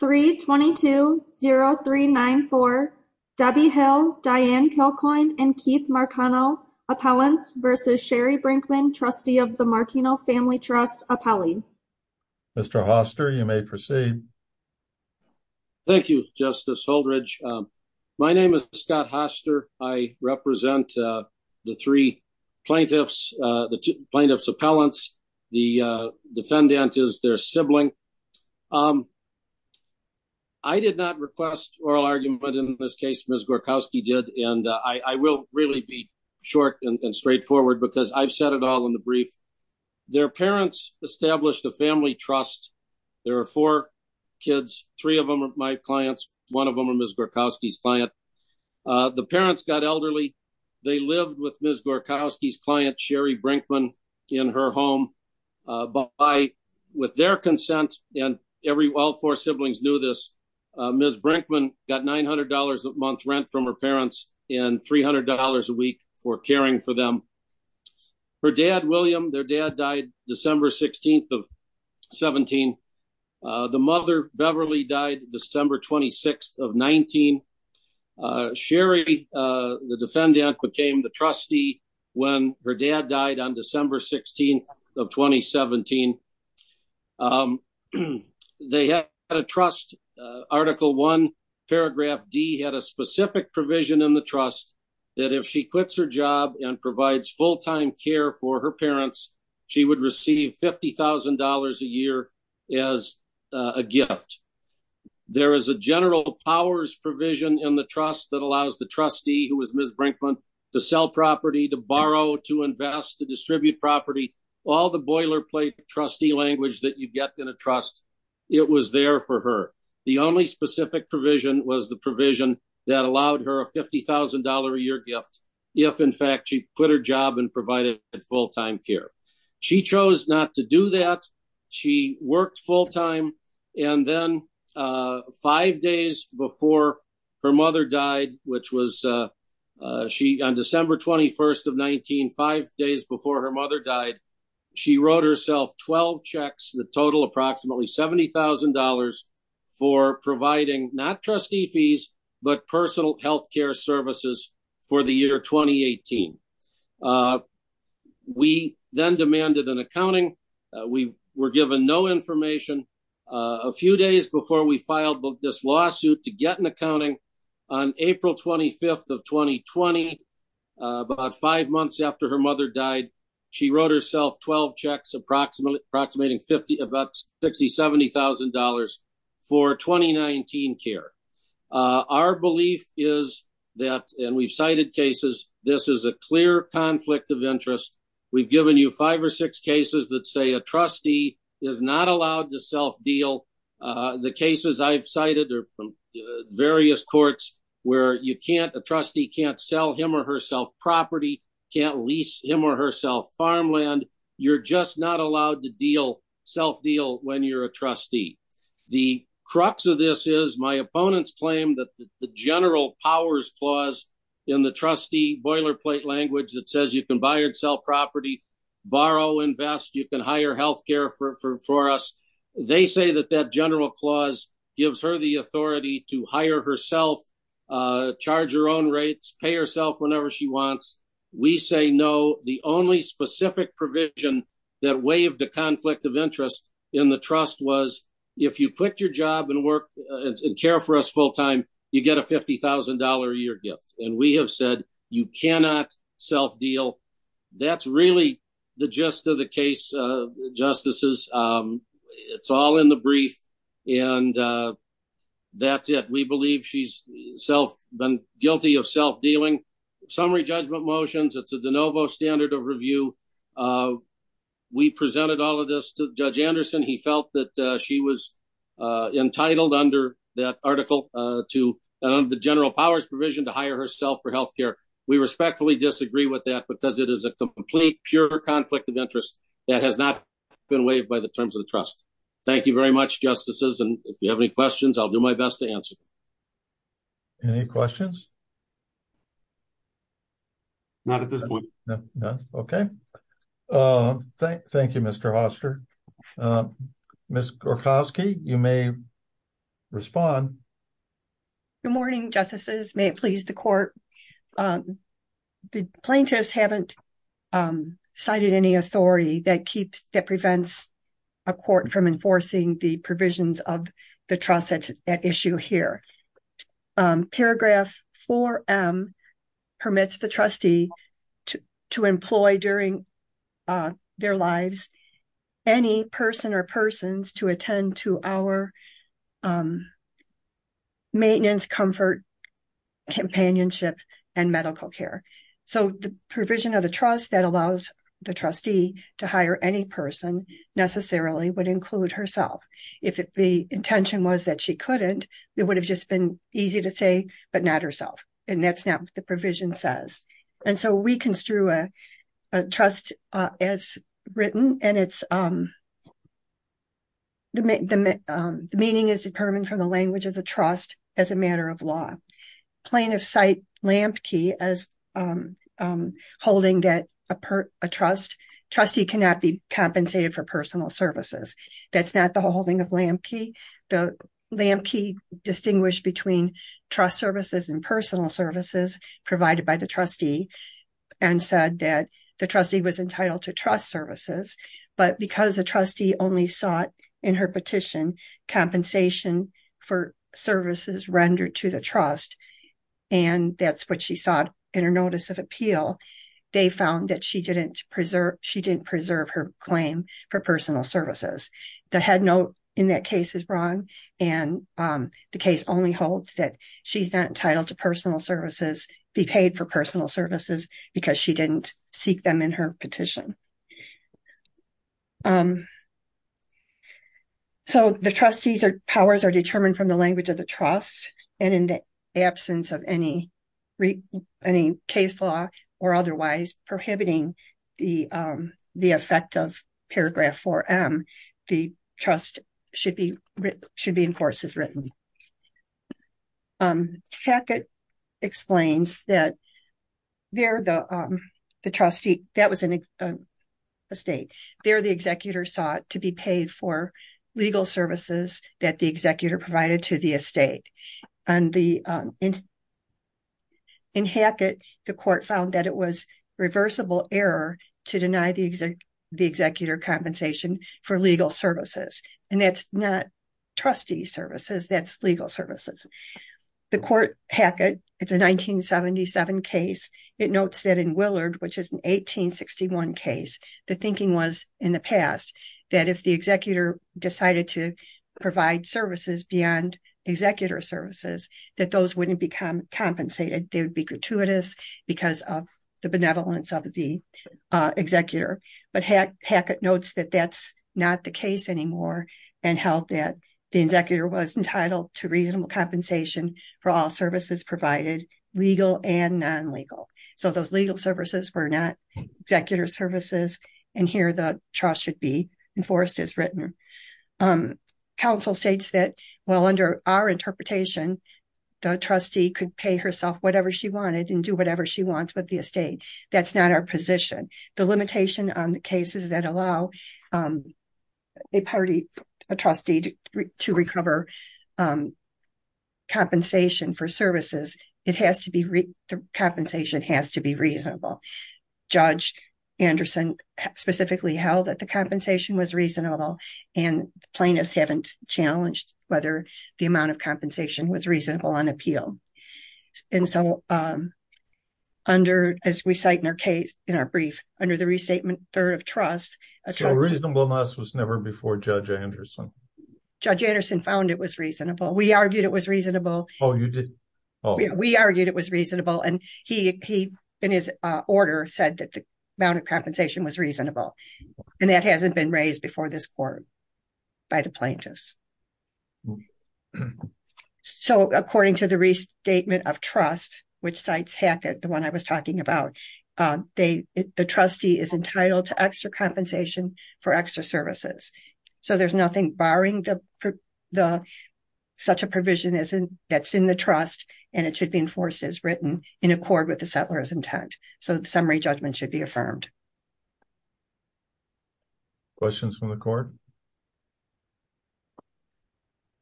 322-0394 Debbie Hill, Diane Kilcoyne, and Keith Marcano, Appellants v. Sherry Brinkman, Trustee of the Marcano Family Trust, appellee. Mr. Hoster, you may proceed. Thank you, Justice Holdredge. My name is Scott Hoster. I represent the three plaintiffs, the plaintiff's appellants. The defendant is their sibling. I did not request oral argument in this case, Ms. Gorkowski did, and I will really be short and straightforward because I've said it all in the brief. Their parents established a family trust. There are four kids, three of them are my clients, one of them are Ms. Gorkowski's client. The parents got elderly. They lived with Ms. Gorkowski's client, Sherry Brinkman, in her home. With their consent, and all four siblings knew this, Ms. Brinkman got $900 a month rent from her parents and $300 a week for caring for them. Her dad, William, their dad died December 16th of 17. The mother, Beverly, died December 26th of 19. Sherry, the defendant, became the trustee when her dad died on December 16th of 2017. They had a trust, Article 1, Paragraph D had a specific provision in the trust that if she quits her job and provides full-time care for her parents, she would receive $50,000 a year as a gift. There is a general powers provision in the trust that allows the trustee, who is Ms. Brinkman, to sell property, to borrow, to invest, to distribute property, all the boilerplate trustee language that you get in a trust. It was there for her. The only specific provision was the provision that allowed her a $50,000 a year gift if, in fact, she quit her job and provided full-time care. She chose not to do that. She worked full-time, and then five days before her mother died, which was on December 21st of 19, five days before her mother died, she wrote herself 12 checks that total approximately $70,000 for providing not trustee fees, but personal health care services for the year 2018. We then demanded an accounting. We were given no information. A few days before we filed this lawsuit to get an accounting, on April 25th of 2020, about five months after her mother died, she wrote herself 12 checks approximating about $60,000, $70,000 for 2019 care. Our belief is that, and we've cited cases, this is a clear conflict of interest. We've given you five or six cases that say a trustee is not allowed to self-deal. The cases I've cited are from various courts where you can't, a trustee can't sell him or herself property, can't lease him or herself farmland. You're just not allowed to deal, self-deal when you're a trustee. The crux of this is my opponents claim that the general powers clause in the trustee boilerplate language that says you can buy or sell property, borrow, invest, you can hire health care for us. They say that that general clause gives her the authority to hire herself, charge her own rates, pay herself whenever she wants. We say no. The only specific provision that waived the conflict of interest in the trust was if you quit your job and work and care for us full-time, you get a $50,000 a year gift. We have said you cannot self-deal. That's really the gist of the case, justices. It's all in the brief and that's it. We believe she's been guilty of self-dealing. Summary judgment motions, it's a de novo standard of review. We presented all of this to Judge Anderson. He felt that she was entitled under that article to the general powers provision to hire herself. We respectfully disagree with that because it is a complete, pure conflict of interest that has not been waived by the terms of the trust. Thank you very much, justices. If you have any questions, I will do my best to answer them. Any questions? Not at this point. None. Okay. Thank you, Mr. Hoster. Ms. Gorkowski, you may respond. Good morning, justices. May it please the court. The plaintiffs haven't cited any authority that prevents a court from enforcing the provisions of the trust at issue here. Paragraph 4M permits the trustee to employ during their lives any person or persons to companionship and medical care. So, the provision of the trust that allows the trustee to hire any person necessarily would include herself. If the intention was that she couldn't, it would have just been easy to say, but not herself, and that's not what the provision says. And so, we construe a trust as written, and the meaning is determined from the language of the trust as a matter of law. Plaintiffs cite Lampke as holding that a trust, trustee cannot be compensated for personal services. That's not the holding of Lampke. Lampke distinguished between trust services and personal services provided by the trustee and said that the trustee was entitled to trust services, but because the trustee only sought in her petition compensation for services rendered to the trust, and that's what she sought in her notice of appeal, they found that she didn't preserve her claim for personal services. The headnote in that case is wrong, and the case only holds that she's not entitled to personal services, be paid for personal services, because she didn't seek them in her petition. So, the trustee's powers are determined from the language of the trust, and in the absence of any case law or otherwise prohibiting the effect of paragraph 4M, the trust should be enforced as written. Hackett explains that there the trustee, that was an estate, there the executor sought to be paid for legal services that the executor provided to the estate. In Hackett, the court found that it was reversible error to deny the executor compensation for legal services. The court, Hackett, it's a 1977 case, it notes that in Willard, which is an 1861 case, the thinking was in the past that if the executor decided to provide services beyond executor services, that those wouldn't be compensated. They would be gratuitous because of the benevolence of the executor, but Hackett notes that that's not the case anymore, and held that the executor was entitled to reasonable compensation for all services provided, legal and non-legal. So, those legal services were not executor services, and here the trust should be enforced as written. Counsel states that, well, under our interpretation, the trustee could pay herself whatever she wanted and do whatever she wants with the estate. That's not our position. The limitation on the cases that allow a party, a trustee, to recover compensation for services, it has to be, the compensation has to be reasonable. Judge Anderson specifically held that the compensation was reasonable, and plaintiffs haven't challenged whether the amount of compensation was reasonable on appeal. And so, under, as we cite in our brief, under the restatement third of trust, a trustee So, reasonableness was never before Judge Anderson? Judge Anderson found it was reasonable. We argued it was reasonable. Oh, you did? We argued it was reasonable, and he, in his order, said that the amount of compensation was reasonable, and that hasn't been raised before this court by the plaintiffs. So, according to the restatement of trust, which cites Hackett, the one I was talking about, the trustee is entitled to extra compensation for extra services. So, there's nothing barring such a provision that's in the trust, and it should be enforced as written in accord with the settler's intent. So, the summary judgment should be affirmed. Questions from the court?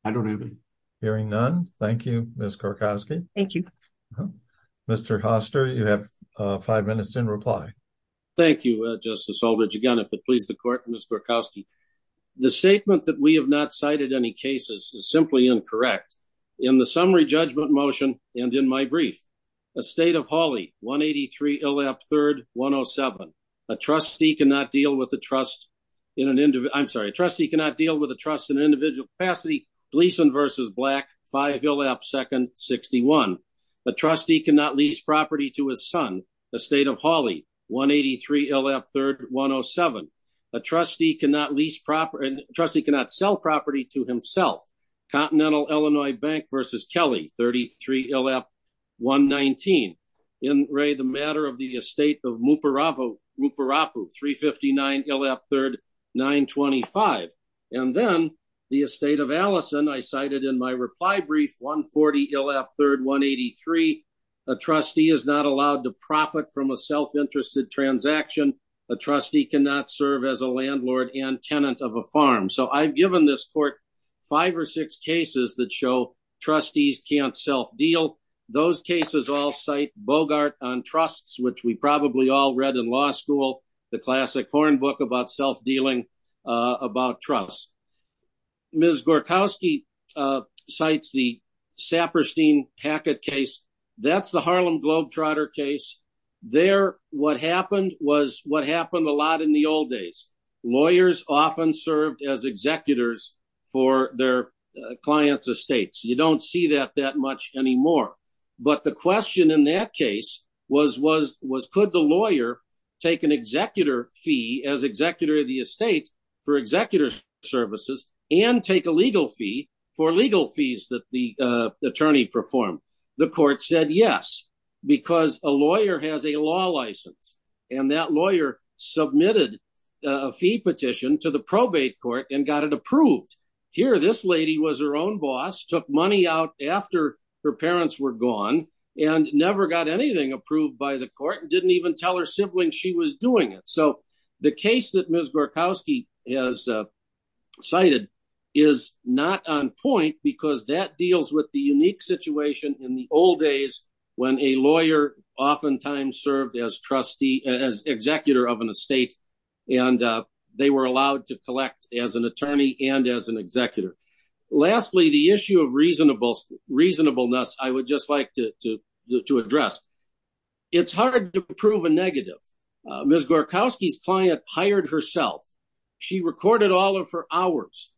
I don't have any. Hearing none. Thank you, Ms. Korkowski. Thank you. Mr. Hoster, you have five minutes in reply. Thank you, Justice Aldridge. Again, if it pleases the court, Ms. Korkowski, the statement that we have not cited any cases is simply incorrect. In the summary judgment motion, and in my brief, a state of Hawley, 183 Illap 3rd, 107, a trustee cannot deal with a trust in an individual capacity, Gleason v. Black, 5 Illap 2nd, 61, a trustee cannot lease property to his son, a state of Hawley, 183 Illap 3rd, 107, a trustee cannot sell property to himself, Continental Illinois Bank v. Kelly, 33 Illap, 119, in Ray, the matter of the estate of Muparapu, 359 Illap 3rd, 925. And then, the estate of Allison, I cited in my reply brief, 140 Illap 3rd, 183, a trustee is not allowed to profit from a self-interested transaction, a trustee cannot serve as a landlord and tenant of a farm. So, I've given this court five or six cases that show trustees can't self-deal. Those cases all cite Bogart on trusts, which we probably all read in law school, the classic porn book about self-dealing about trusts. Ms. Gorkowski cites the Saperstein-Hackett case. That's the Harlem Globetrotter case. There, what happened was what happened a lot in the old days. You don't see that that much anymore. But the question in that case was, could the lawyer take an executor fee as executor of the estate for executor services and take a legal fee for legal fees that the attorney performed? The court said yes, because a lawyer has a law license. And that lawyer submitted a fee petition to the probate court and got it approved. Here, this lady was her own boss, took money out after her parents were gone, and never got anything approved by the court, didn't even tell her sibling she was doing it. So, the case that Ms. Gorkowski has cited is not on point because that deals with the unique situation in the old days when a lawyer oftentimes served as executor of an estate and they were allowed to collect as an attorney and as an executor. Lastly, the issue of reasonableness, I would just like to address. It's hard to prove a negative. Ms. Gorkowski's client hired herself. She recorded all of her hours.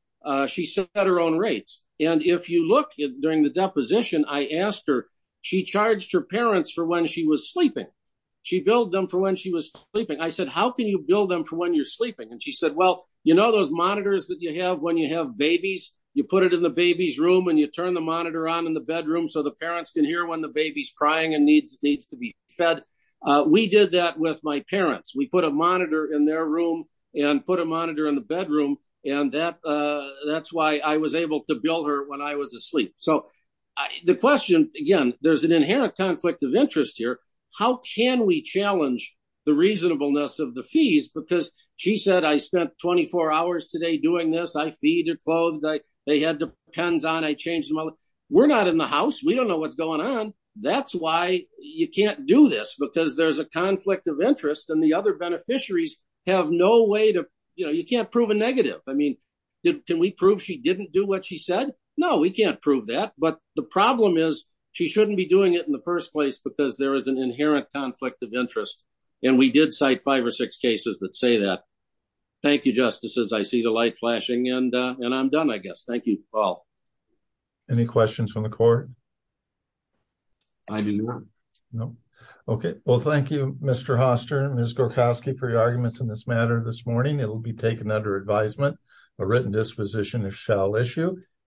She set her own rates. And if you look during the deposition, I asked her, she charged her parents for when she was sleeping. She billed them for when she was sleeping. I said, how can you bill them for when you're sleeping? And she said, well, you know those monitors that you have when you have babies? You put it in the baby's room and you turn the monitor on in the bedroom so the parents can hear when the baby's crying and needs to be fed. We did that with my parents. We put a monitor in their room and put a monitor in the bedroom. And that's why I was able to bill her when I was asleep. So, the question, again, there's an inherent conflict of interest here. How can we challenge the reasonableness of the fees? Because she said, I spent 24 hours today doing this. I feed her clothes. They had the pens on. I changed them. We're not in the house. We don't know what's going on. That's why you can't do this because there's a conflict of interest. And the other beneficiaries have no way to, you know, you can't prove a negative. I mean, can we prove she didn't do what she said? No, we can't prove that. But the problem is she shouldn't be doing it in the first place because there is an inherent conflict of interest. And we did cite five or six cases that say that. Thank you, Justices. I see the light flashing, and I'm done, I guess. Thank you, Paul. Any questions from the court? I do not. No? Okay. Well, thank you, Mr. Hoster and Ms. Gorkowski, for your arguments in this matter this morning. It will be taken under advisement. A written disposition, if shall, issue.